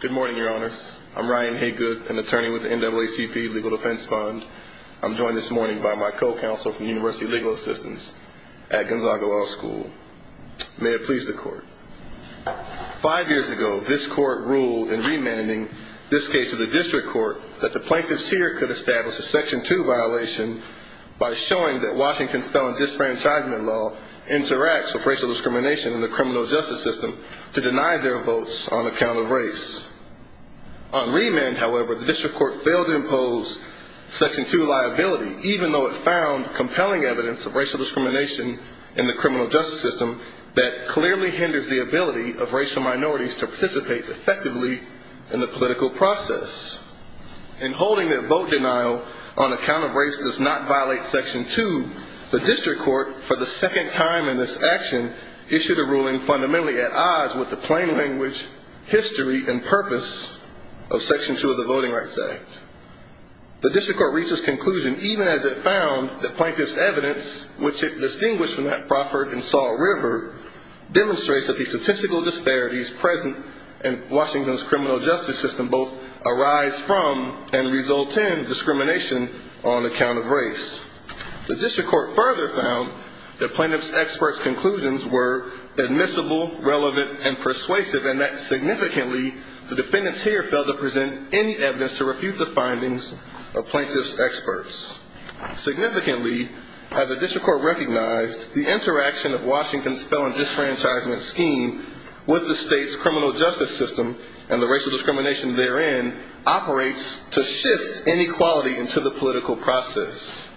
Good morning, your honors. I'm Ryan Haygood, an attorney with the NAACP Legal Defense Fund. I'm joined this morning by my co-counsel from University Legal Assistance at Gonzaga Law School. May it please the court. Five years ago, this court ruled in remanding this case to the district court that the plaintiffs here could establish a Section 2 violation by showing that Washington's felon disenfranchisement law interacts with racial discrimination in the criminal justice system to deny their votes on account of race. On remand, however, the district court failed to impose Section 2 liability, even though it found compelling evidence of racial discrimination in the criminal justice system that clearly hinders the ability of racial minorities to participate effectively in the political process. In holding that vote denial on account of race does not violate Section 2, the district court, for the second time in this action, issued a ruling fundamentally at odds with the plain language, history, and purpose of Section 2 of the Voting Rights Act. The district court reached this conclusion even as it found that plaintiff's evidence, which it distinguished from that proffered in Salt River, demonstrates that the statistical disparities present in Washington's criminal justice system both arise from and result in discrimination on account of race. The district court further found that plaintiff's expert's conclusions were admissible, relevant, and persuasive, and that significantly the defendants here failed to present any evidence to refute the findings of plaintiff's experts. Significantly, as the district court recognized, the interaction of Washington's felon disenfranchisement scheme with the state's criminal justice system and the racial discrimination therein operates to shift inequality into the political process.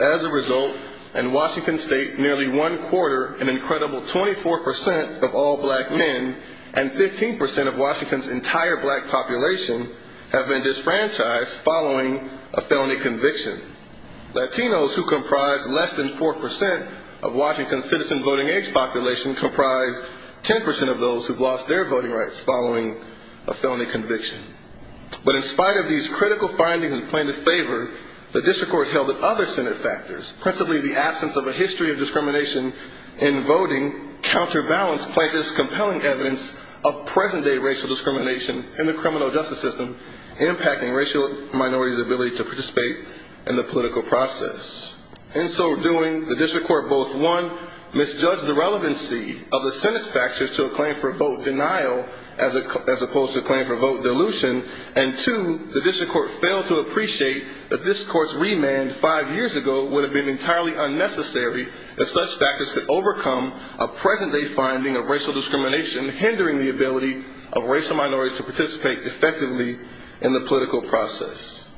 As a result, in Washington state, nearly one quarter, an incredible 24% of all black men, and 15% of Washington's entire black population have been disenfranchised following a felony conviction. Latinos who comprise less than 4% of Washington's citizen voting age population comprise 10% of those who've lost their voting rights following a felony conviction. Other Senate factors, principally the absence of a history of discrimination in voting, counterbalance plaintiff's compelling evidence of present-day racial discrimination in the criminal justice system, impacting racial minorities' ability to participate in the political process. In so doing, the district court both, one, misjudged the relevancy of the Senate's factors to a claim for vote denial, as opposed to a claim for vote dilution, and two, the district court failed to appreciate that this court's remand five years ago would have been entirely unnecessary if such factors could overcome a present-day finding of racial discrimination hindering the ability of racial minorities to participate effectively in the political process.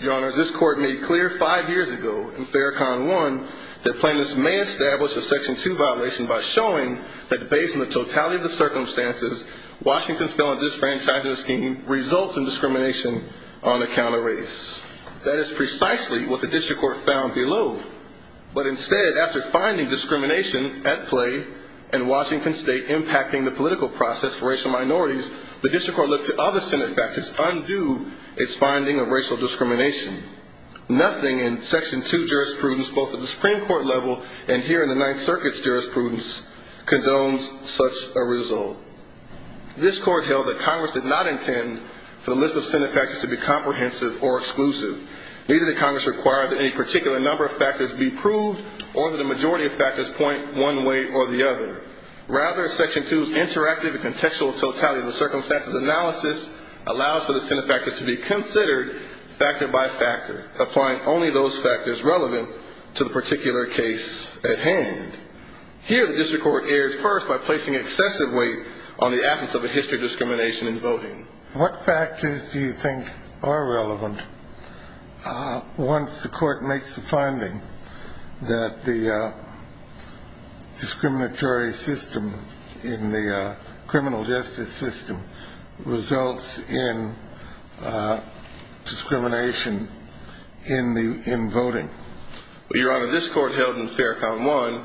Your Honors, this court made clear five years ago, in Farrakhan 1, that plaintiffs may establish a Section 2 violation by showing that based on the totality of the circumstances, Washington's felony disenfranchisement scheme results in discrimination on account of race. That is precisely what the district court found below. But instead, after finding discrimination at play in Washington State impacting the political process for racial minorities, the district court looked to other Senate factors undue its finding of racial discrimination. Nothing in Section 2 jurisprudence, both at the Supreme Court level and here in the Ninth Circuit's jurisprudence, condones such a result. This court held that Congress did not intend for the list of Senate factors to be comprehensive or exclusive. Neither did Congress require that any particular number of factors be proved, or that a majority of factors point one way or the other. Rather, Section 2's interactive and contextual totality of the circumstances analysis allows for the Senate factors to be considered, factor by factor, applying only those factors relevant to the particular case at hand. Here, the district court erred first by placing excessive weight on the absence of a history of discrimination in voting. What factors do you think are relevant once the court makes the finding that the discriminatory system in the criminal justice system results in discrimination on account of race? Well, Your Honor, this court held in Fair Count 1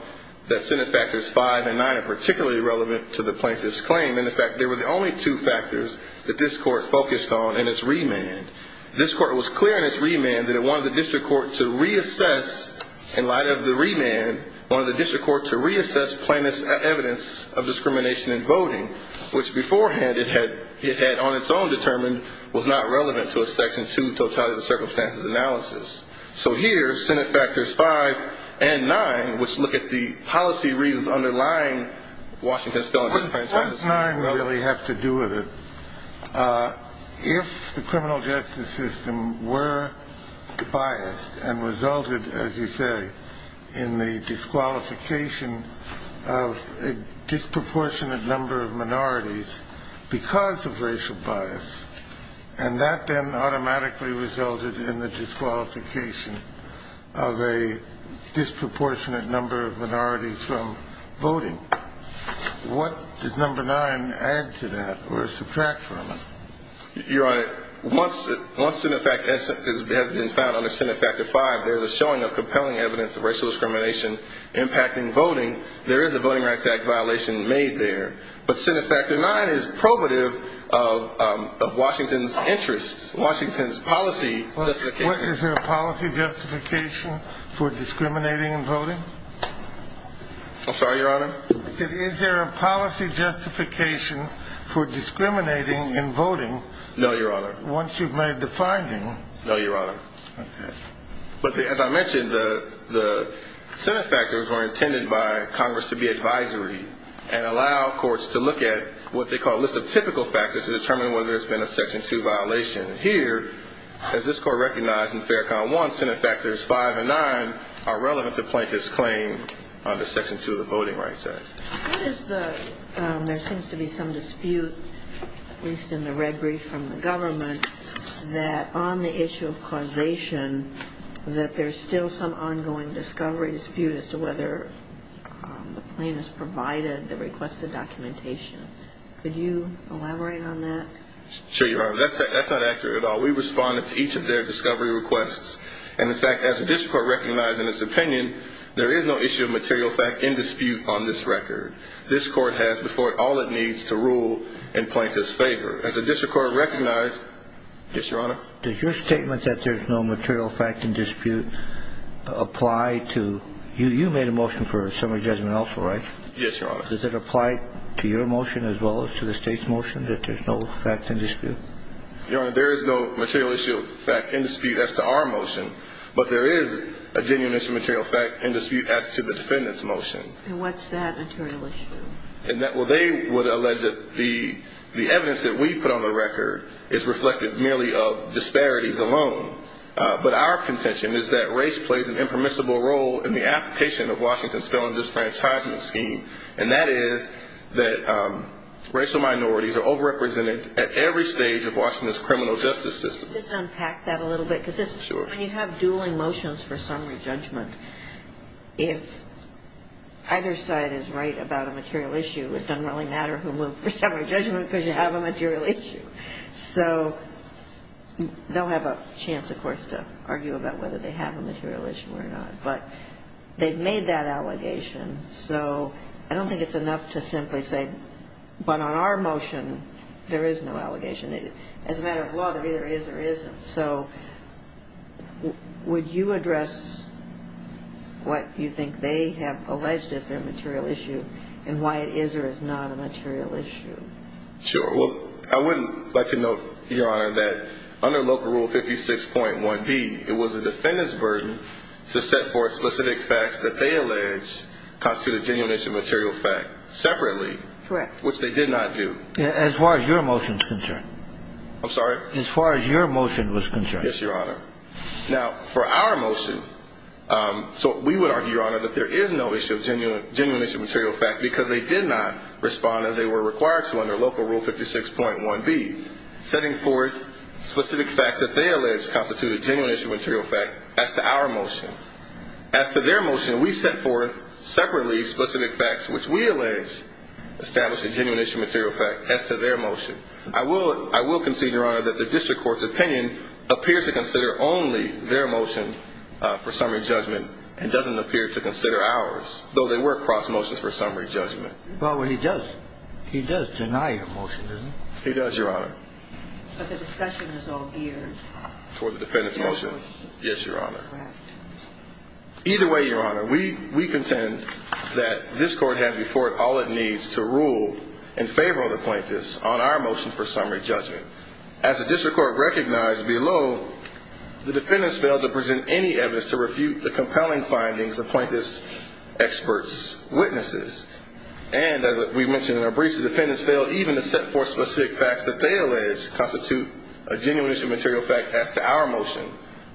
that Senate factors 5 and 9 are particularly relevant to the plaintiff's claim. And, in fact, they were the only two factors that this court focused on in its remand. This court was clear in its remand that it wanted the district court to reassess, in light of the remand, wanted the district court to reassess plaintiff's evidence of discrimination in voting, which, beforehand, it had on its own determined was not relevant to a Section 2 totality of the circumstances analysis. So, here, Senate factors 5 and 9, which look at the policy reasons underlying Washington's filibustering, Of course, what does 5 and 9 really have to do with it? If the criminal justice system were biased and resulted, as you say, in the disqualification of a disproportionate number of minorities because of racial bias, and that then automatically resulted in the disqualification of a disproportionate number of minorities from voting, what does number 9 add to that or subtract from it? Your Honor, once Senate factors have been found under Senate factor 5, there's a showing of compelling evidence of racial discrimination impacting voting. There is a Voting Rights Act violation made there. But Senate factor 9 is probative of Washington's interests, Washington's policy justification. Is there a policy justification for discriminating in voting? I'm sorry, Your Honor? Is there a policy justification for discriminating in voting once you've made the finding? No, Your Honor. But, as I mentioned, the Senate factors were intended by Congress to be advisory and allow courts to look at what they call a list of typical factors to determine whether there's been a Section 2 violation. Here, as this Court recognized in Fair Comm. 1, Senate factors 5 and 9 are relevant to plaintiff's claim under Section 2 of the Voting Rights Act. There seems to be some dispute, at least in the red brief from the government, that on the issue of causation, that there's still some ongoing discovery dispute as to whether the plaintiff's provided the requested documentation. Could you elaborate on that? Sure, Your Honor. That's not accurate at all. We responded to each of their discovery requests. And, in fact, as the District Court recognized in its opinion, there is no issue of material fact in dispute on this record. This Court has before it all it needs to rule in plaintiff's favor. As the District Court recognized... Yes, Your Honor? Does your statement that there's no material fact in dispute apply to... You made a motion for summary judgment also, right? Yes, Your Honor. Does it apply to your motion as well as to the State's motion that there's no fact in dispute? Your Honor, there is no material issue of fact in dispute as to our motion, but there is a genuine issue of material fact in dispute as to the defendant's motion. And what's that material issue? Well, they would allege that the evidence that we put on the record is reflective merely of disparities alone. But our contention is that race plays an impermissible role in the application of Washington's felon disenfranchisement scheme. And that is that racial minorities are overrepresented at every stage of Washington's criminal justice system. Just unpack that a little bit, because when you have dueling motions for summary judgment, if either side is right about a material issue, it doesn't really matter who moved for summary judgment because you have a material issue. So they'll have a chance, of course, to argue about whether they have a material issue or not. But they've made that allegation, so I don't think it's enough to simply say, but on our motion, there is no allegation. As a matter of law, there either is or isn't. So would you address what you think they have alleged is their material issue and why it is or is not a material issue? Sure. Well, I wouldn't like to note, Your Honor, that under Local Rule 56.1b, it was the defendant's burden to set forth specific facts that they allege constitute a genuine issue of material fact separately. Correct. Which they did not do. As far as your motion is concerned. I'm sorry? As far as your motion was concerned. Yes, Your Honor. Now, for our motion, so we would argue, Your Honor, that there is no issue of genuine issue of material fact because they did not respond as they were required to on our motion. So under Local Rule 56.1b, setting forth specific facts that they allege constitute a genuine issue of material fact as to our motion. As to their motion, we set forth separately specific facts which we allege establish a genuine issue of material fact as to their motion. I will concede, Your Honor, that the district court's opinion appears to consider only their motion for summary judgment and doesn't appear to consider ours, though they were cross motions for summary judgment. Well, he does. He does deny your motion, doesn't he? He does, Your Honor. But the discussion is all geared. Toward the defendant's motion. Yes, Your Honor. Correct. Either way, Your Honor, we contend that this court has before it all it needs to rule in favor of the plaintiffs on our motion for summary judgment. As the district court recognized below, the defendants failed to present any evidence to refute the compelling findings of plaintiffs' experts' witnesses. And, as we mentioned in our briefs, the defendants failed even to set forth specific facts that they allege constitute a genuine issue of material fact as to our motion,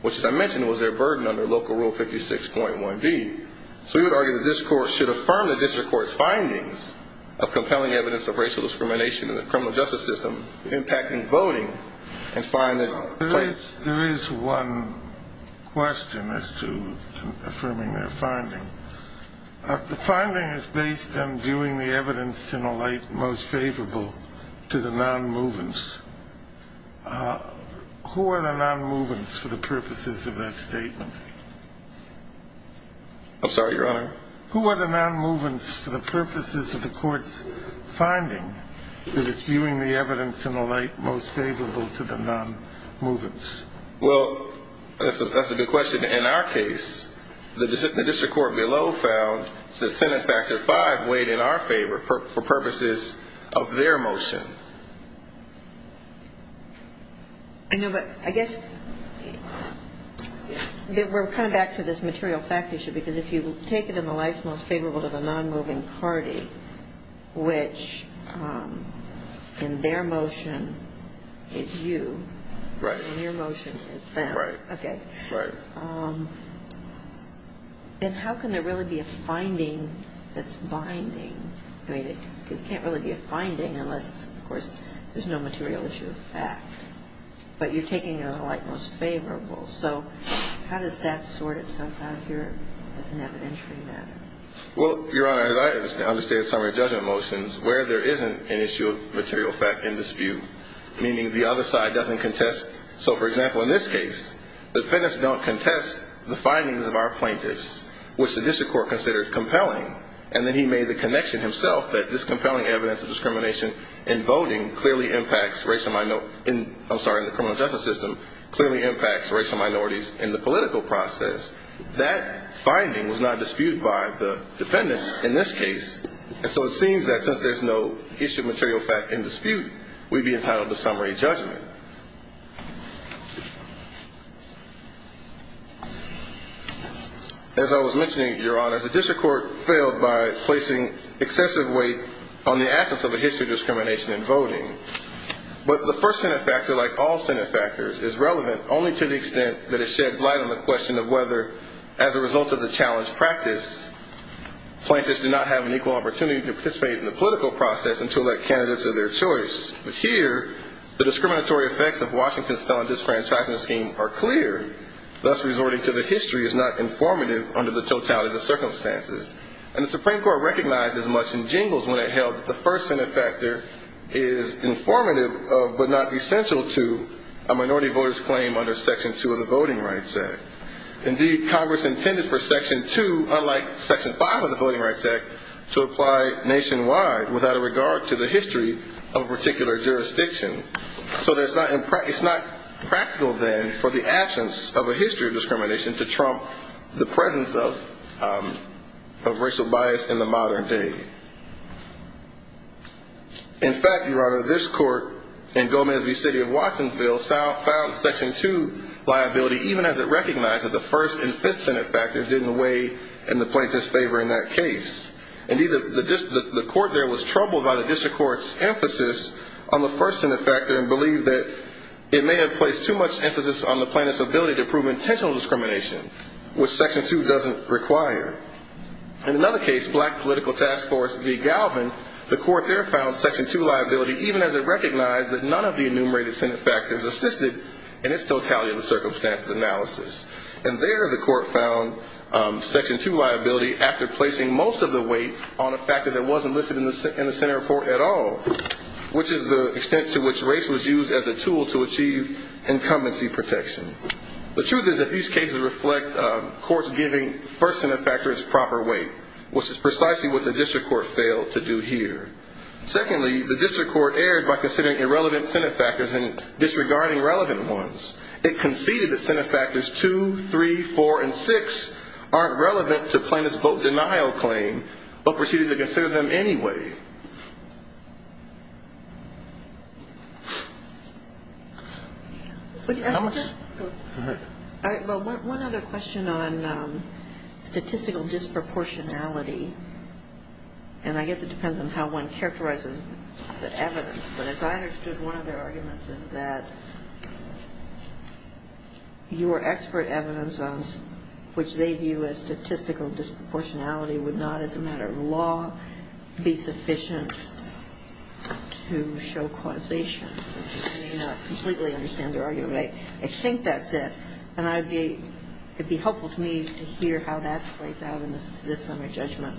which, as I mentioned, was their burden under Local Rule 56.1b. So we would argue that this court should affirm the district court's findings of compelling evidence of racial discrimination in the criminal justice system, impacting voting, and find that plaintiffs… There is one question as to affirming their finding. The finding is based on viewing the evidence in a light most favorable to the nonmovements. Who are the nonmovements for the purposes of that statement? I'm sorry, Your Honor? Who are the nonmovements for the purposes of the court's finding that it's viewing the evidence in a light most favorable to the nonmovements? Well, that's a good question. In our case, the district court below found that Senate Factor V weighed in our favor for purposes of their motion. I know, but I guess we're kind of back to this material fact issue, because if you take it in the light most favorable to the nonmoving party, which, in their motion, is you, and your motion is them, okay, then how can there really be a finding that's binding? I mean, it can't really be a finding unless, of course, there's no material issue of fact. But you're taking it in the light most favorable. So how does that sort itself out here as an evidentiary matter? Well, Your Honor, as I understand some of your judgment motions, where there isn't an issue of material fact in dispute, meaning the other side doesn't contest. So, for example, in this case, defendants don't contest the findings of our plaintiffs, which the district court considered compelling. And then he made the connection himself that this compelling evidence of discrimination in voting clearly impacts racial minority – I'm sorry, in the criminal justice system, clearly impacts racial minorities in the political process. That finding was not disputed by the defendants in this case. And so it seems that since there's no issue of material fact in dispute, we'd be entitled to summary judgment. As I was mentioning, Your Honor, the district court failed by placing excessive weight on the absence of a history of discrimination in voting. But the first Senate factor, like all Senate factors, is relevant only to the extent that it sheds light on the question of whether, as a result of the challenge practice, plaintiffs do not have an equal opportunity to participate in the political process and to elect candidates of their choice. But here, the discriminatory effects of Washington's felon disenfranchisement scheme are clear. Thus, resorting to the history is not informative under the totality of the circumstances. And the Supreme Court recognized as much in jingles when it held that the first Senate factor is informative but not essential to a minority voter's claim under Section 2 of the Voting Rights Act. Indeed, Congress intended for Section 2, unlike Section 5 of the Voting Rights Act, to apply nationwide without a regard to the history of a particular jurisdiction. So it's not practical, then, for the absence of a history of discrimination to trump the presence of racial bias in the modern day. In fact, Your Honor, this court in Gomez v. City of Watsonville filed Section 2 liability even as it recognized that the first and fifth Senate factors didn't weigh in the plaintiffs' favor in that case. Indeed, the court there was troubled by the district court's emphasis on the first Senate factor and believed that it may have placed too much emphasis on the plaintiffs' ability to prove intentional discrimination, which Section 2 doesn't require. In another case, Black Political Task Force v. Galvin, the court there found Section 2 liability even as it recognized that none of the enumerated Senate factors assisted in its totality of the circumstances analysis. And there, the court found Section 2 liability after placing most of the weight on a factor that wasn't listed in the Senate report at all, which is the extent to which race was used as a tool to achieve incumbency protection. The truth is that these cases reflect courts giving first Senate factors proper weight, which is precisely what the district court failed to do here. Secondly, the district court erred by considering irrelevant Senate factors and disregarding relevant ones. It conceded that Senate factors 2, 3, 4, and 6 aren't relevant to plaintiff's vote denial claim, but proceeded to consider them anyway. One other question on statistical disproportionality, and I guess it depends on how one characterizes the evidence, but as I understood, one of their arguments is that your expert evidence, which they view as statistical disproportionality, would not, as a matter of law, be sufficient to determine whether the plaintiff's claim is true. It would be sufficient to show causation. I may not completely understand their argument, but I think that's it. And it would be helpful to me to hear how that plays out in this summary judgment.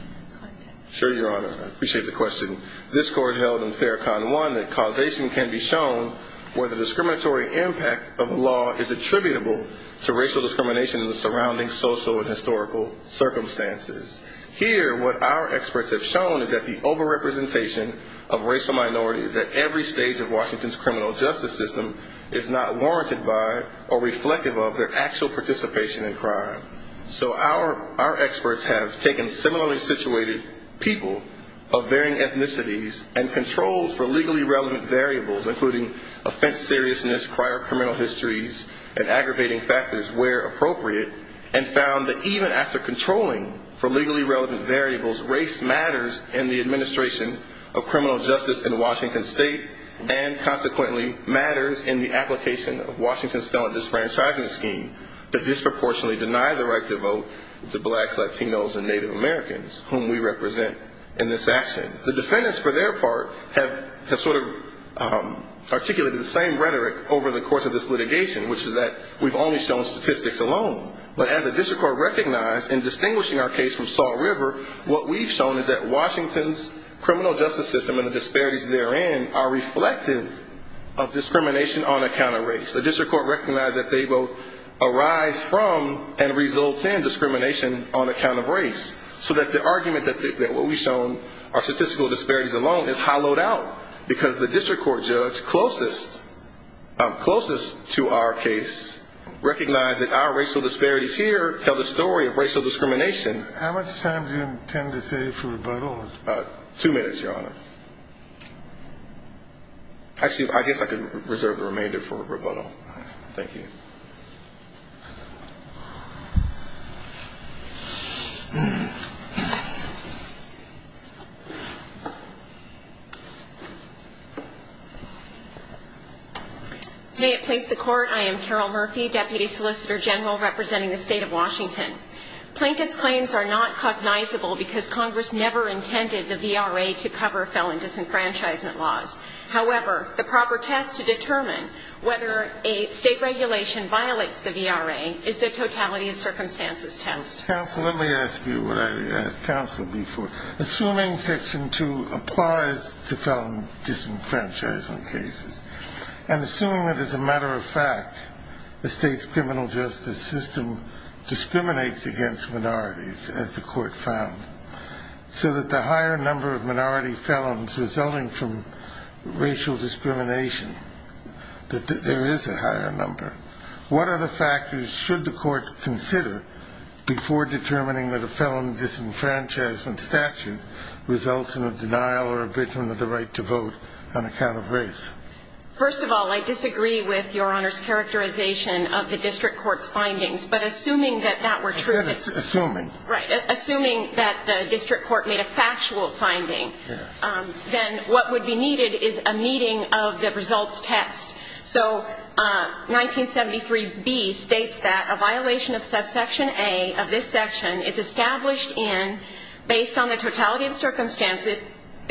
Sure, Your Honor. I appreciate the question. This Court held in FAIR Con 1 that causation can be shown where the discriminatory impact of a law is attributable to racial discrimination in the surrounding social and historical circumstances. Here, what our experts have shown is that the over-representation of racial minorities at every stage of Washington's criminal justice system is not warranted by or reflective of their actual participation in crime. So our experts have taken similarly situated people of varying ethnicities and controlled for legally relevant variables, including offense seriousness, prior criminal histories, and aggravating factors where appropriate, and found that even after controlling for legally relevant variables, race matters in the administration of criminal justice in Washington State and, consequently, matters in the application of Washington's felon disenfranchisement scheme to disproportionately deny the rights of people of all ethnicities. The defendants, for their part, have sort of articulated the same rhetoric over the course of this litigation, which is that we've only shown statistics alone. But as the district court recognized in distinguishing our case from Salt River, what we've shown is that Washington's criminal justice system and the disparities therein are reflective of discrimination on account of race. The district court recognized that they both arise from and result in discrimination on account of race. So that the argument that what we've shown are statistical disparities alone is hollowed out because the district court judge closest to our case recognized that our racial disparities here tell the story of racial discrimination. How much time do you intend to save for rebuttal? Two minutes, Your Honor. Actually, I guess I can reserve the remainder for rebuttal. Thank you. You may have placed the court. I am Carol Murphy, Deputy Solicitor General representing the State of Washington. Plaintiff's claims are not cognizable because Congress never intended the VRA to cover felon disenfranchisement laws. However, the proper test to determine whether a state regulation violates the VRA is to determine whether a state regulation violates the VRA. Is there a totality of circumstances test? Counsel, let me ask you what I asked counsel before. Assuming Section 2 applies to felon disenfranchisement cases and assuming that as a matter of fact, the state's criminal justice system discriminates against minorities, as the court found, so that the higher number of minority felons resulting from racial discrimination, that there is a higher number, what other factors should the court consider before determining that a felon disenfranchisement statute results in a denial or abetment of the right to vote on account of race? First of all, I disagree with Your Honor's characterization of the district court's findings. But assuming that that were true. Assuming. Right. Assuming that the district court made a factual finding, then what would be needed is a meeting of the results test. So 1973B states that a violation of subsection A of this section is established in, based on the totality of circumstances,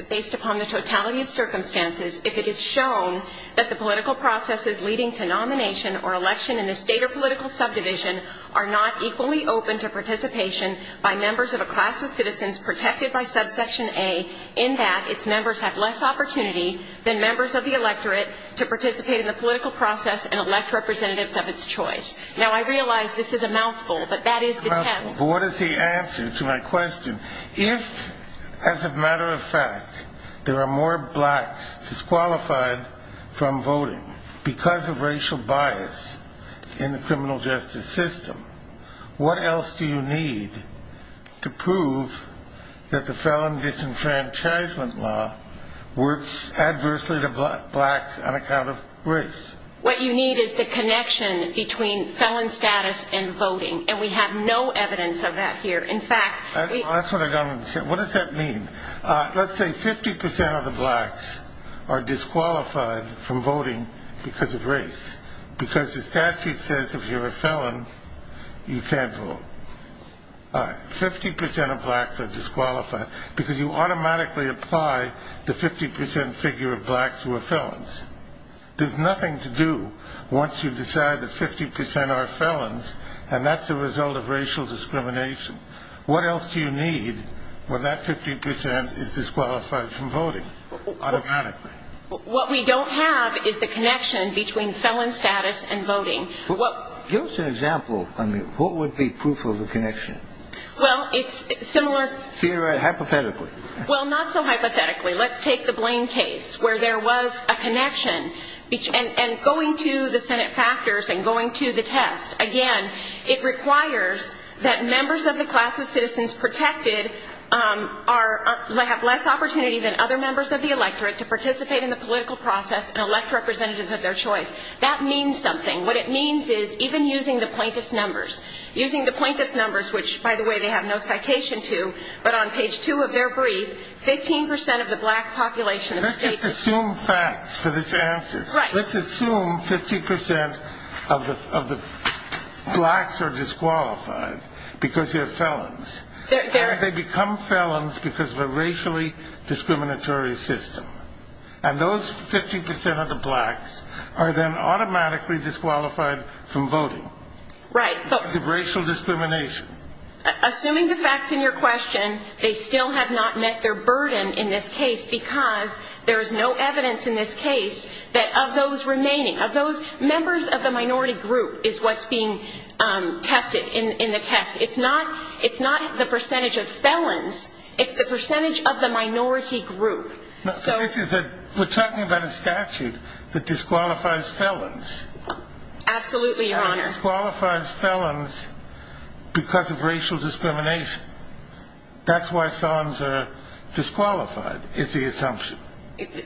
based upon the totality of circumstances, if it is shown that the political processes leading to nomination or election in the state or political subdivision are not equally open to participation by members of a class of citizens protected by subsection A, in that its members have less opportunity than members of the electorate to participate in the political process and elect representatives of its choice. Now, I realize this is a mouthful, but that is the test. But what is the answer to my question? If, as a matter of fact, there are more blacks disqualified from voting because of racial bias in the criminal justice system, what else do you need to prove that the felon disenfranchisement law works adversely to blacks on account of race? What you need is the connection between felon status and voting, and we have no evidence of that here. In fact, That's what I don't understand. What does that mean? Let's say 50% of the blacks are disqualified from voting because of race, because the statute says if you're a felon, you can't vote. 50% of blacks are disqualified because you automatically apply the 50% figure of blacks who are felons. There's nothing to do once you decide that 50% are felons, and that's the result of racial discrimination. What else do you need when that 50% is disqualified from voting automatically? What we don't have is the connection between felon status and voting. Give us an example. I mean, what would be proof of a connection? Well, it's similar. Hypothetically. Well, not so hypothetically. Let's take the Blaine case where there was a connection, and going to the Senate factors and going to the test, again, it requires that members of the class of citizens protected have less opportunity than other members of the electorate to participate in the political process and elect representatives of their choice. That means something. What it means is even using the plaintiff's numbers, using the plaintiff's numbers, which, by the way, they have no citation to, but on page two of their brief, 15% of the black population of the state is. Let's just assume facts for this answer. Right. Let's assume 50% of the blacks are disqualified because they're felons. They become felons because of a racially discriminatory system. And those 50% of the blacks are then automatically disqualified from voting. Right. Because of racial discrimination. Assuming the facts in your question, they still have not met their burden in this case because there is no evidence in this case that of those remaining, of those members of the minority group is what's being tested in the test. It's not the percentage of felons. It's the percentage of the minority group. So this is a we're talking about a statute that disqualifies felons. Absolutely, Your Honor. And it disqualifies felons because of racial discrimination. That's why felons are disqualified. It's the assumption.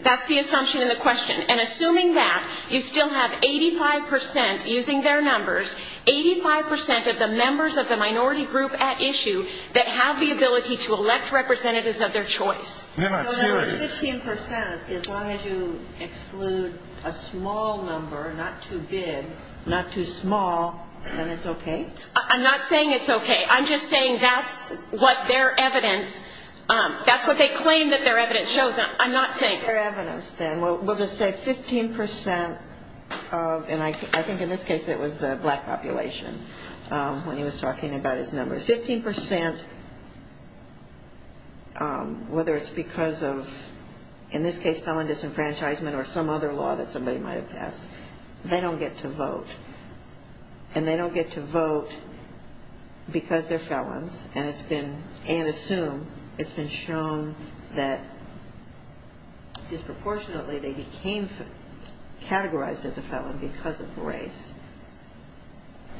That's the assumption in the question. And assuming that, you still have 85% using their numbers, 85% of the members of the minority group at issue that have the ability to elect representatives of their choice. They're not serious. So that 15%, as long as you exclude a small number, not too big, not too small, then it's okay? I'm not saying it's okay. I'm just saying that's what their evidence, that's what they claim that their evidence shows. I'm not saying. Their evidence, then. We'll just say 15% of, and I think in this case it was the black population when he was talking about his numbers, 15%, whether it's because of, in this case, felon disenfranchisement or some other law that somebody might have passed, they don't get to vote. And they don't get to vote because they're felons. And it's been, and assumed, it's been shown that disproportionately they became categorized as a felon because of race.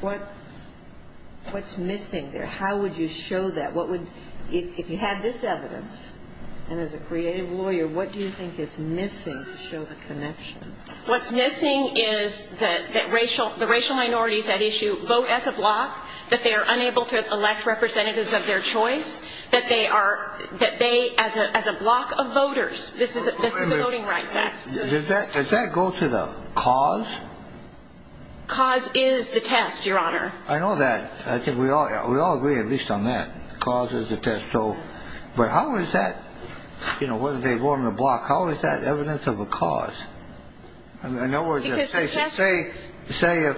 What's missing there? How would you show that? What would, if you had this evidence, and as a creative lawyer, what do you think is missing to show the connection? What's missing is that racial minorities at issue vote as a bloc, that they are unable to elect representatives of their choice, that they are, that they, as a bloc of voters, this is the Voting Rights Act. Does that go to the cause? Cause is the test, Your Honor. I know that. I think we all agree at least on that. Cause is the test. But how is that, whether they vote on the bloc, how is that evidence of a cause? Say if,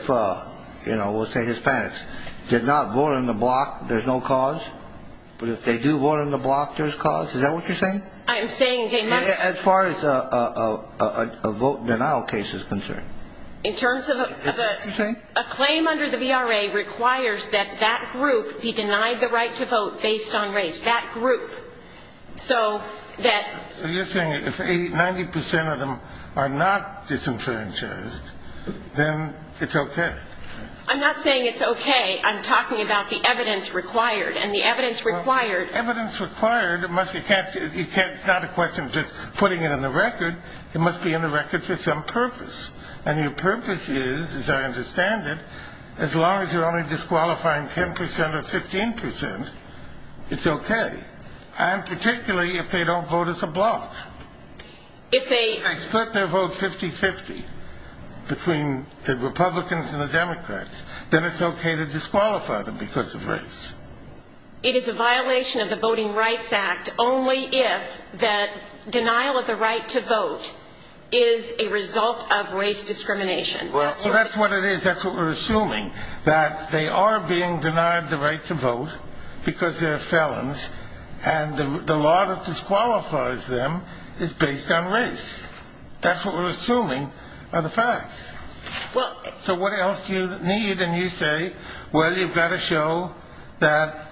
we'll say Hispanics, did not vote on the bloc, there's no cause? But if they do vote on the bloc, there's cause? Is that what you're saying? I'm saying they must. As far as a vote denial case is concerned. Is that what you're saying? A claim under the VRA requires that that group be denied the right to vote based on race. That group. So that. So you're saying if 90% of them are not disenfranchised, then it's okay. I'm not saying it's okay. I'm talking about the evidence required. And the evidence required. Evidence required, it must, it can't, it's not a question of just putting it in the record. It must be in the record for some purpose. And your purpose is, as I understand it, as long as you're only disqualifying 10% or 15%, it's okay. And particularly if they don't vote as a bloc. If they. If they split their vote 50-50 between the Republicans and the Democrats, then it's okay to disqualify them because of race. It is a violation of the Voting Rights Act only if the denial of the right to vote is a result of race discrimination. Well, so that's what it is. That's what we're assuming, that they are being denied the right to vote because they're felons. And the law that disqualifies them is based on race. That's what we're assuming are the facts. So what else do you need? And you say, well, you've got to show that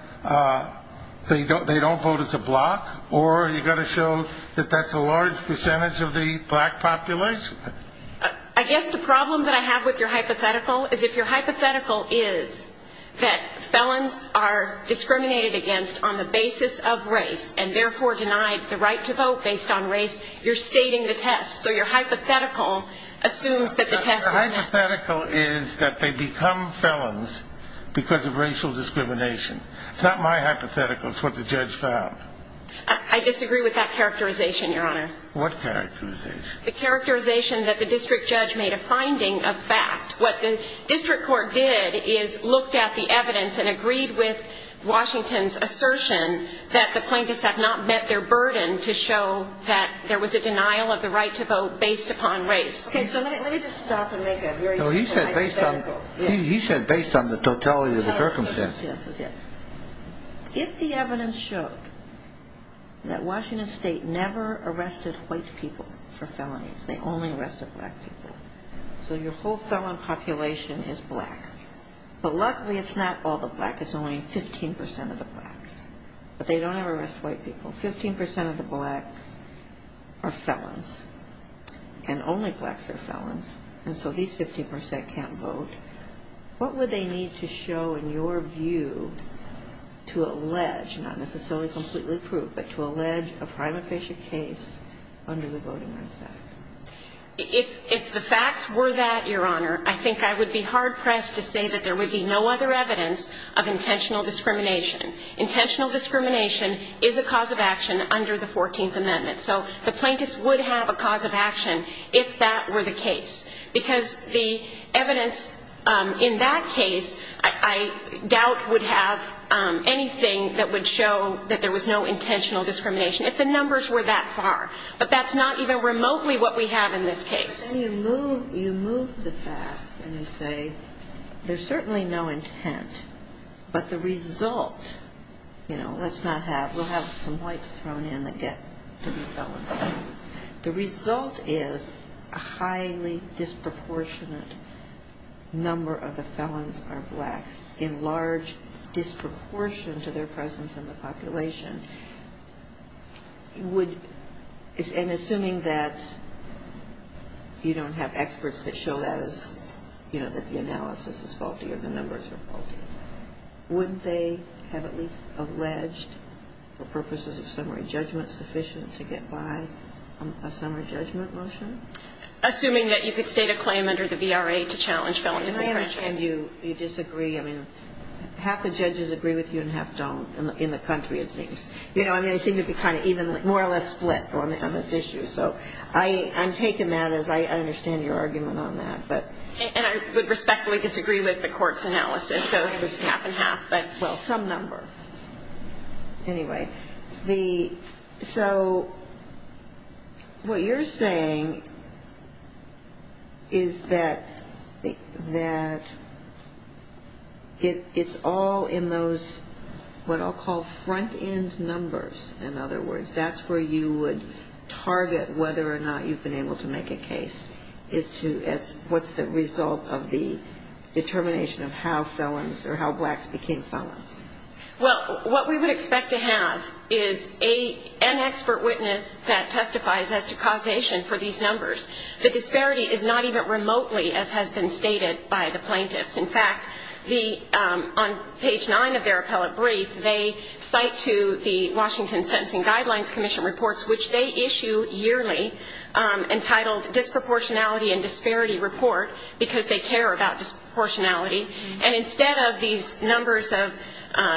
they don't vote as a bloc, or you've got to show that that's a large percentage of the black population. I guess the problem that I have with your hypothetical is if your hypothetical is that felons are discriminated against on the basis of race and therefore denied the right to vote based on race, you're stating the test. So your hypothetical assumes that the test was met. The hypothetical is that they become felons because of racial discrimination. It's not my hypothetical. It's what the judge found. I disagree with that characterization, Your Honor. What characterization? The characterization that the district judge made a finding of fact. What the district court did is looked at the evidence and agreed with Washington's assertion that the plaintiffs have not met their burden to show that there was a denial of the right to vote based upon race. Okay, so let me just stop and make a very simple hypothetical. No, he said based on the totality of the circumstance. Yes, yes, yes. If the evidence showed that Washington State never arrested white people for felonies, they only arrested black people. So your whole felon population is black. But luckily, it's not all the black. It's only 15 percent of the blacks. But they don't ever arrest white people. 15 percent of the blacks are felons. And only blacks are felons. And so these 15 percent can't vote. What would they need to show in your view to allege, not necessarily completely prove, but to allege a prima facie case under the Voting Rights Act? If the facts were that, Your Honor, I think I would be hard-pressed to say that there would be no other evidence of intentional discrimination. Intentional discrimination is a cause of action under the 14th Amendment. So the plaintiffs would have a cause of action if that were the case. Because the evidence in that case, I doubt, would have anything that would show that there was no intentional discrimination, if the numbers were that far. But that's not even remotely what we have in this case. Then you move the facts and you say there's certainly no intent. But the result, you know, let's not have, we'll have some whites thrown in that get to be felons. The result is a highly disproportionate number of the felons are blacks, in large disproportion to their presence in the population. And assuming that you don't have experts that show that as, you know, that the analysis is faulty or the numbers are faulty, wouldn't they have at least alleged for purposes of summary judgment sufficient to get by a summary judgment motion? Assuming that you could state a claim under the VRA to challenge felonies and franchises. I understand you disagree. I mean, half the judges agree with you and half don't. In the country, it seems. You know, I mean, they seem to be kind of even more or less split on this issue. So I'm taking that as I understand your argument on that. And I would respectfully disagree with the court's analysis. So there's half and half, but, well, some number. Anyway. So what you're saying is that it's all in those what I'll call front-end numbers, in other words. That's where you would target whether or not you've been able to make a case as to what's the result of the determination of how felons or how blacks became felons. Well, what we would expect to have is an expert witness that testifies as to causation for these numbers. The disparity is not even remotely as has been stated by the plaintiffs. In fact, on page 9 of their appellate brief, they cite to the Washington Sentencing Guidelines Commission reports, which they issue yearly, entitled Disproportionality and Disparity Report, because they care about disproportionality. And instead of these numbers of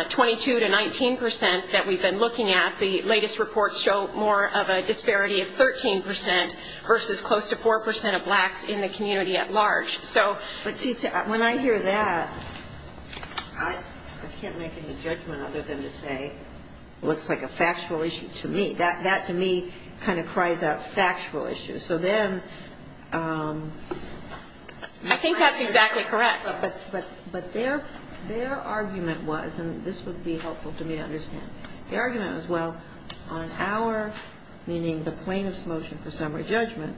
22 to 19 percent that we've been looking at, the latest reports show more of a disparity of 13 percent versus close to 4 percent of blacks in the community at large. So when I hear that, I can't make any judgment other than to say it looks like a factual issue to me. That, to me, kind of cries out factual issues. I think that's exactly correct. But their argument was, and this would be helpful to me to understand, the argument was, well, on our, meaning the plaintiff's motion for summary judgment,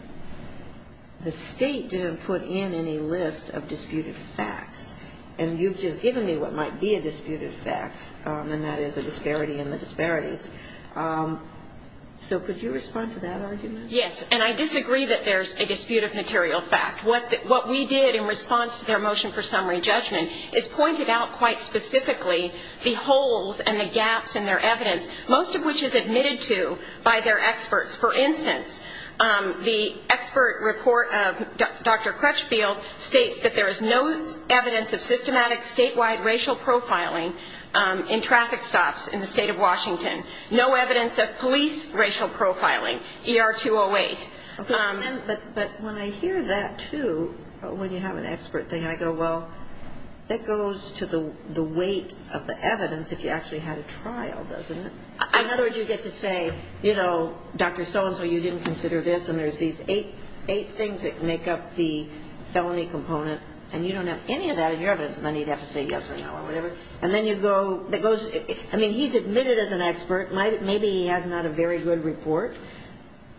the State didn't put in any list of disputed facts, and you've just given me what might be a disputed fact, and that is a disparity in the disparities. So could you respond to that argument? Yes, and I disagree that there's a dispute of material fact. What we did in response to their motion for summary judgment is pointed out quite specifically the holes and the gaps in their evidence, most of which is admitted to by their experts. For instance, the expert report of Dr. Crutchfield states that there is no evidence of systematic statewide racial profiling in traffic stops in the state of Washington, no evidence of police racial profiling, ER 208. But when I hear that, too, when you have an expert thing, I go, well, that goes to the weight of the evidence if you actually had a trial, doesn't it? So in other words, you get to say, you know, Dr. So-and-so, you didn't consider this, and there's these eight things that make up the felony component, and you don't have any of that in your evidence, and then you'd have to say yes or no or whatever. And then you go, I mean, he's admitted as an expert. Maybe he has not a very good report.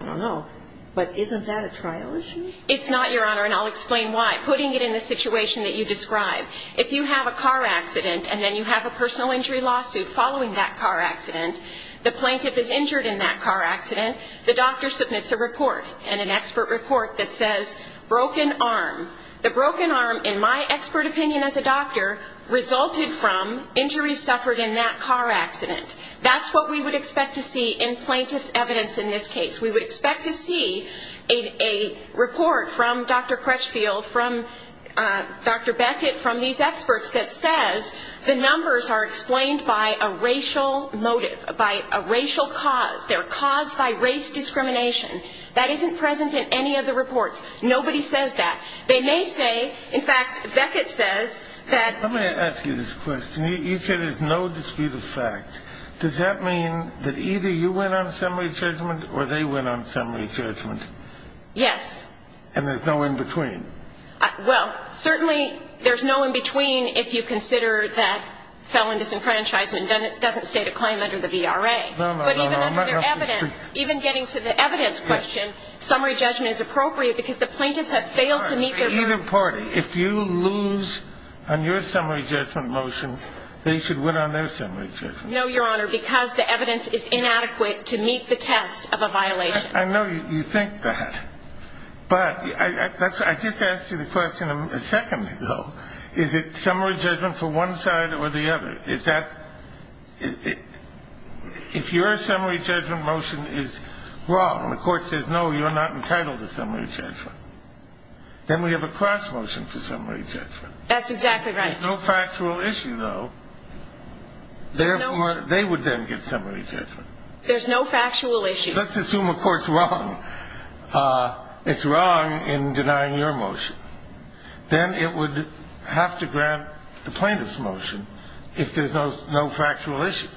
I don't know. But isn't that a trial issue? It's not, Your Honor, and I'll explain why. Putting it in the situation that you described, if you have a car accident and then you have a personal injury lawsuit following that car accident, the plaintiff is injured in that car accident, the doctor submits a report, and an expert report that says broken arm. The broken arm, in my expert opinion as a doctor, resulted from injuries suffered in that car accident. That's what we would expect to see in plaintiff's evidence in this case. We would expect to see a report from Dr. Crutchfield, from Dr. Beckett, from these experts that says the numbers are explained by a racial motive, by a racial cause. They're caused by race discrimination. That isn't present in any of the reports. Nobody says that. They may say, in fact, Beckett says that... Let me ask you this question. You say there's no dispute of fact. Does that mean that either you went on summary judgment or they went on summary judgment? Yes. And there's no in-between? Well, certainly there's no in-between if you consider that felon disenfranchisement doesn't state a claim under the VRA. No, no, no. But even under evidence, even getting to the evidence question, summary judgment is appropriate because the plaintiffs have failed to meet their... Either party. If you lose on your summary judgment motion, they should win on their summary judgment. No, Your Honor, because the evidence is inadequate to meet the test of a violation. I know you think that, but I just asked you the question a second ago. Is it summary judgment for one side or the other? Is that... If your summary judgment motion is wrong and the court says, no, you're not entitled to summary judgment, then we have a cross motion for summary judgment. That's exactly right. If there's no factual issue, though, therefore, they would then get summary judgment. There's no factual issue. Let's assume a court's wrong. It's wrong in denying your motion. Then it would have to grant the plaintiff's motion if there's no factual issue.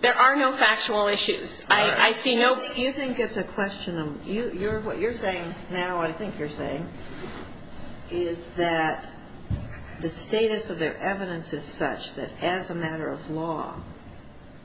There are no factual issues. I see no... You think it's a question of... What you're saying now, I think you're saying, is that the status of their evidence is such that as a matter of law,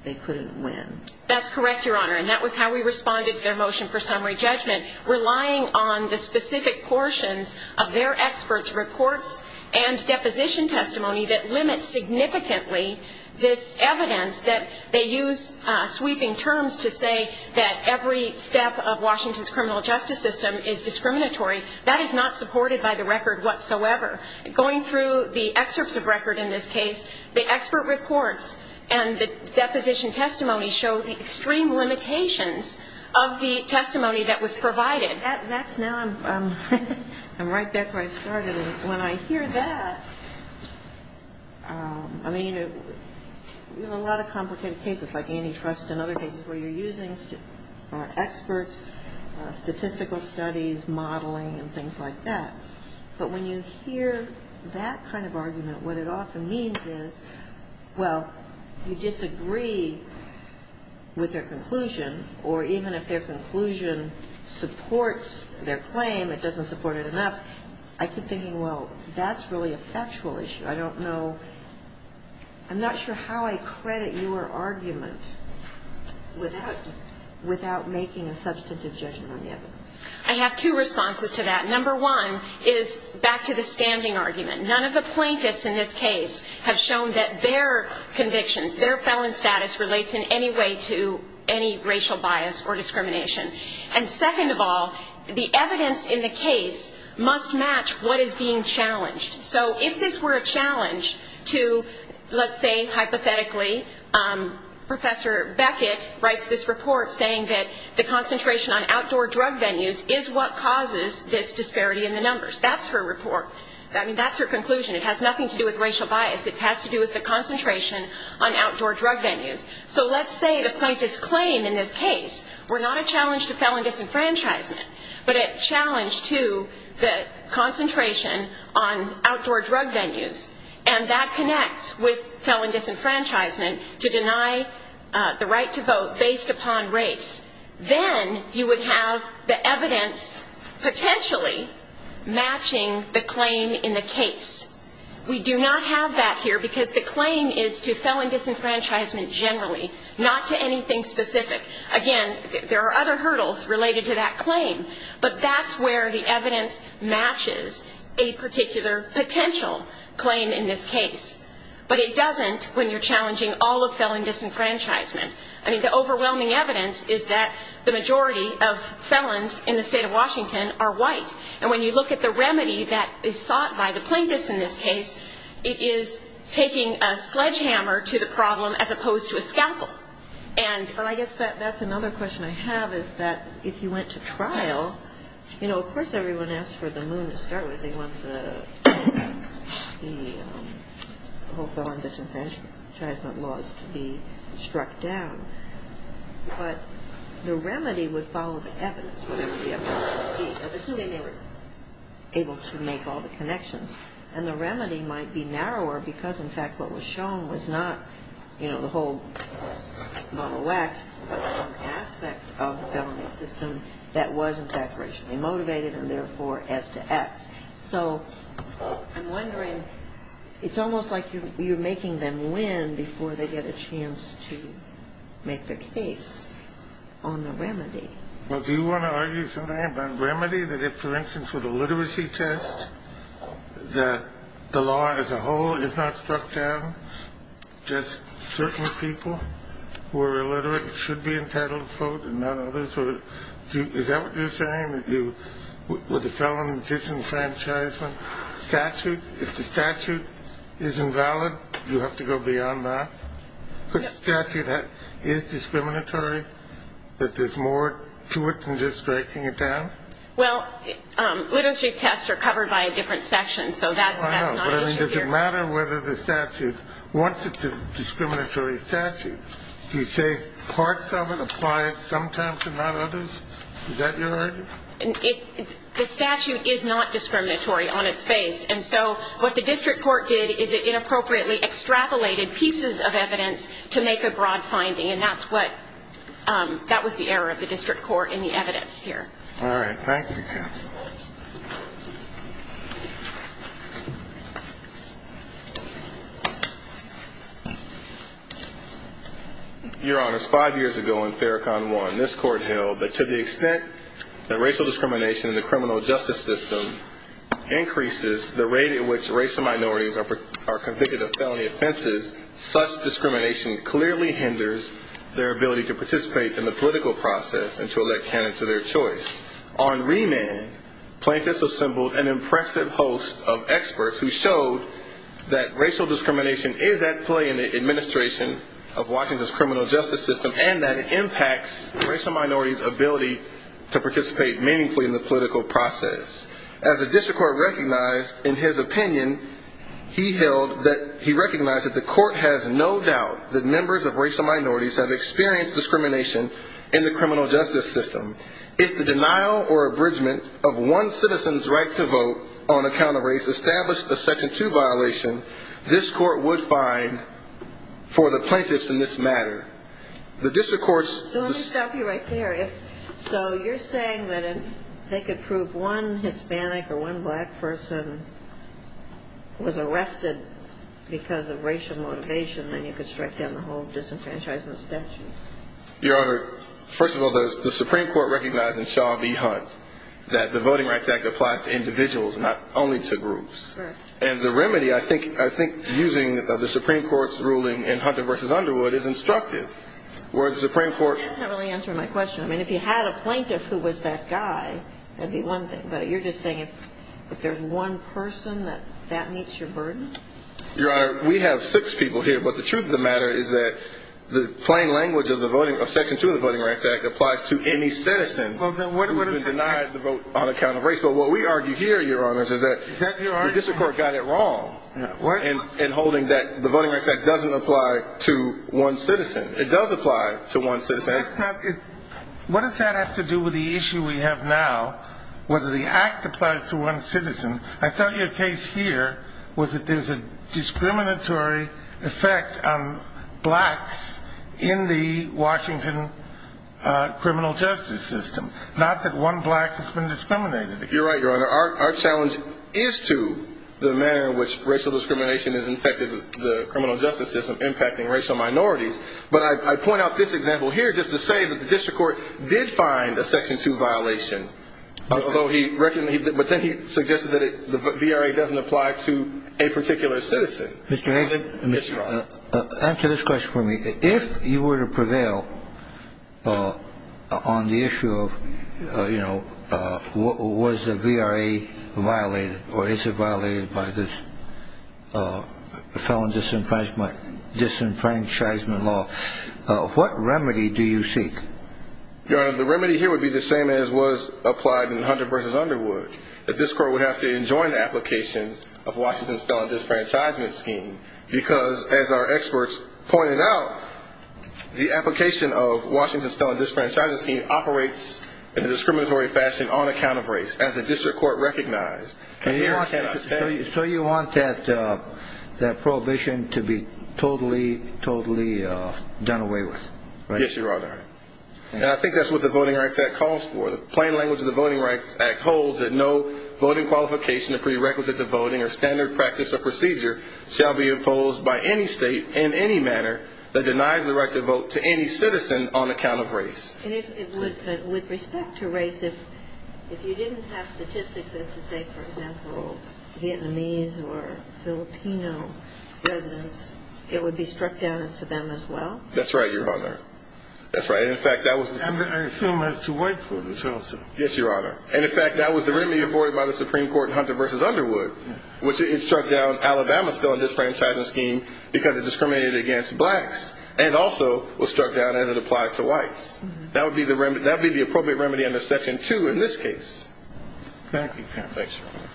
they couldn't win. That's correct, Your Honor, and that was how we responded to their motion for summary judgment, relying on the specific portions of their experts' reports and deposition testimony that limit significantly this evidence that they use sweeping terms to say that every step of Washington's criminal justice system is discriminatory. That is not supported by the record whatsoever. Going through the excerpts of record in this case, the expert reports and the deposition testimony show the extreme limitations of the testimony that was provided. That's now... I'm right back where I started. When I hear that, I mean, in a lot of complicated cases like antitrust and other cases where you're using experts, statistical studies, modeling, and things like that, but when you hear that kind of argument, what it often means is, well, you disagree with their conclusion, or even if their conclusion supports their claim, it doesn't support it enough, I keep thinking, well, that's really a factual issue. I don't know. I'm not sure how I credit your argument without making a substantive judgment on the evidence. I have two responses to that. Number one is back to the standing argument. None of the plaintiffs in this case have shown that their convictions, their felon status relates in any way to any racial bias or discrimination. And second of all, the evidence in the case must match what is being challenged. So if this were a challenge to, let's say, hypothetically, Professor Beckett writes this report saying that the concentration on outdoor drug venues is what causes this disparity in the numbers. That's her report. I mean, that's her conclusion. It has nothing to do with racial bias. It has to do with the concentration on outdoor drug venues. So let's say the plaintiff's claim in this case were not a challenge to felon disenfranchisement, but a challenge to the concentration on outdoor drug venues, and that connects with felon disenfranchisement to deny the right to vote based upon race. Then you would have the evidence potentially matching the claim in the case. We do not have that here because the claim is to felon disenfranchisement generally, not to anything specific. Again, there are other hurdles related to that claim, but that's where the evidence matches a particular potential claim in this case. But it doesn't when you're challenging all of felon disenfranchisement. I mean, the overwhelming evidence is that the majority of felons in the state of Washington are white. And when you look at the remedy that is sought by the plaintiffs in this case, it is taking a sledgehammer to the problem as opposed to a scalpel. Well, I guess that's another question I have is that if you went to trial, you know, of course everyone asks for the moon to start with. They want the whole felon disenfranchisement laws to be struck down. But the remedy would follow the evidence, whatever the evidence would be. Assuming they were able to make all the connections. And the remedy might be narrower because, in fact, what was shown was not, you know, the whole bottle of wax, but some aspect of the felony system that was, in fact, racially motivated and therefore S to X. So I'm wondering, it's almost like you're making them win before they get a chance to make their case on the remedy. Well, do you want to argue something about remedy? That if, for instance, with a literacy test, that the law as a whole is not struck down, just certain people who are illiterate should be entitled to vote and not others? Is that what you're saying? With the felon disenfranchisement statute, if the statute is invalid, you have to go beyond that? If the statute is discriminatory, that there's more to it than just striking it down? Well, literacy tests are covered by a different section, so that's not an issue here. I know, but I mean, does it matter whether the statute wants it to be a discriminatory statute? Do you say parts of it apply sometimes and not others? Is that your argument? The statute is not discriminatory on its face. And so what the district court did is it inappropriately extrapolated pieces of evidence to make a broad finding, and that was the error of the district court in the evidence here. All right. Thank you. Your Honors, five years ago in Ferricon 1, this court held that to the extent that racial discrimination in the criminal justice system increases the rate at which racial minorities are convicted of felony offenses, such discrimination clearly hinders their ability to participate in the political process and to elect candidates of their choice. On remand, plaintiffs assembled an impressive host of experts who showed that racial discrimination is at play in the administration of Washington's criminal justice system and that it impacts racial minorities' ability to participate meaningfully in the political process. As the district court recognized in his opinion, he held that he recognized that the court has no doubt that members of racial minorities have experienced discrimination in the criminal justice system. If the denial or abridgment of one citizen's right to vote on account of race established a Section 2 violation, this court would find for the plaintiffs in this matter. The district court's... So let me stop you right there. So you're saying that if they could prove one Hispanic or one black person was arrested because of racial motivation, then you could strike down the whole disenfranchisement statute? Your Honor, first of all, the Supreme Court recognized in Shaw v. Hunt that the Voting Rights Act applies to individuals, not only to groups. And the remedy, I think, using the Supreme Court's ruling in Hunter v. Underwood is instructive, where the Supreme Court... That's not really answering my question. I mean, if you had a plaintiff who was that guy, that would be one thing. But you're just saying if there's one person, that that meets your burden? Your Honor, we have six people here. But the truth of the matter is that the plain language of Section 2 of the Voting Rights Act applies to any citizen who has been denied the vote on account of race. But what we argue here, Your Honor, is that the district court got it wrong in holding that the Voting Rights Act doesn't apply to one citizen. It does apply to one citizen. What does that have to do with the issue we have now, whether the act applies to one citizen? I thought your case here was that there's a discriminatory effect on blacks in the Washington criminal justice system, not that one black has been discriminated against. You're right, Your Honor. Our challenge is to the manner in which racial discrimination is infected with the criminal justice system, impacting racial minorities. But I point out this example here just to say that the district court did find a Section 2 violation, but then he suggested that the VRA doesn't apply to a particular citizen. Mr. Hagin, answer this question for me. If you were to prevail on the issue of, you know, was the VRA violated or is it violated by this felon disenfranchisement law, what remedy do you seek? Your Honor, the remedy here would be the same as was applied in Hunter v. Underwood, that this court would have to enjoin the application of Washington's felon disenfranchisement scheme because, as our experts pointed out, the application of Washington's felon disenfranchisement scheme operates in a discriminatory fashion on account of race. As a district court recognized, it cannot stand. So you want that prohibition to be totally, totally done away with, right? Yes, Your Honor. And I think that's what the Voting Rights Act calls for. The plain language of the Voting Rights Act holds that no voting qualification or prerequisite to voting or standard practice or procedure shall be imposed by any state in any manner that denies the right to vote to any citizen on account of race. And with respect to race, if you didn't have statistics as to, say, for example, Vietnamese or Filipino residents, it would be struck down as to them as well? That's right, Your Honor. That's right. And, in fact, that was the... I assume as to white voters also. Yes, Your Honor. And, in fact, that was the remedy afforded by the Supreme Court in Hunter v. Underwood, which it struck down Alabama's felon disenfranchisement scheme because it discriminated against blacks and also was struck down as it applied to whites. That would be the appropriate remedy under Section 2 in this case. Thank you, Ken. Thanks, Your Honor.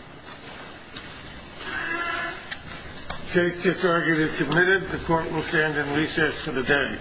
Case disargued is submitted. The Court will stand in recess for the day.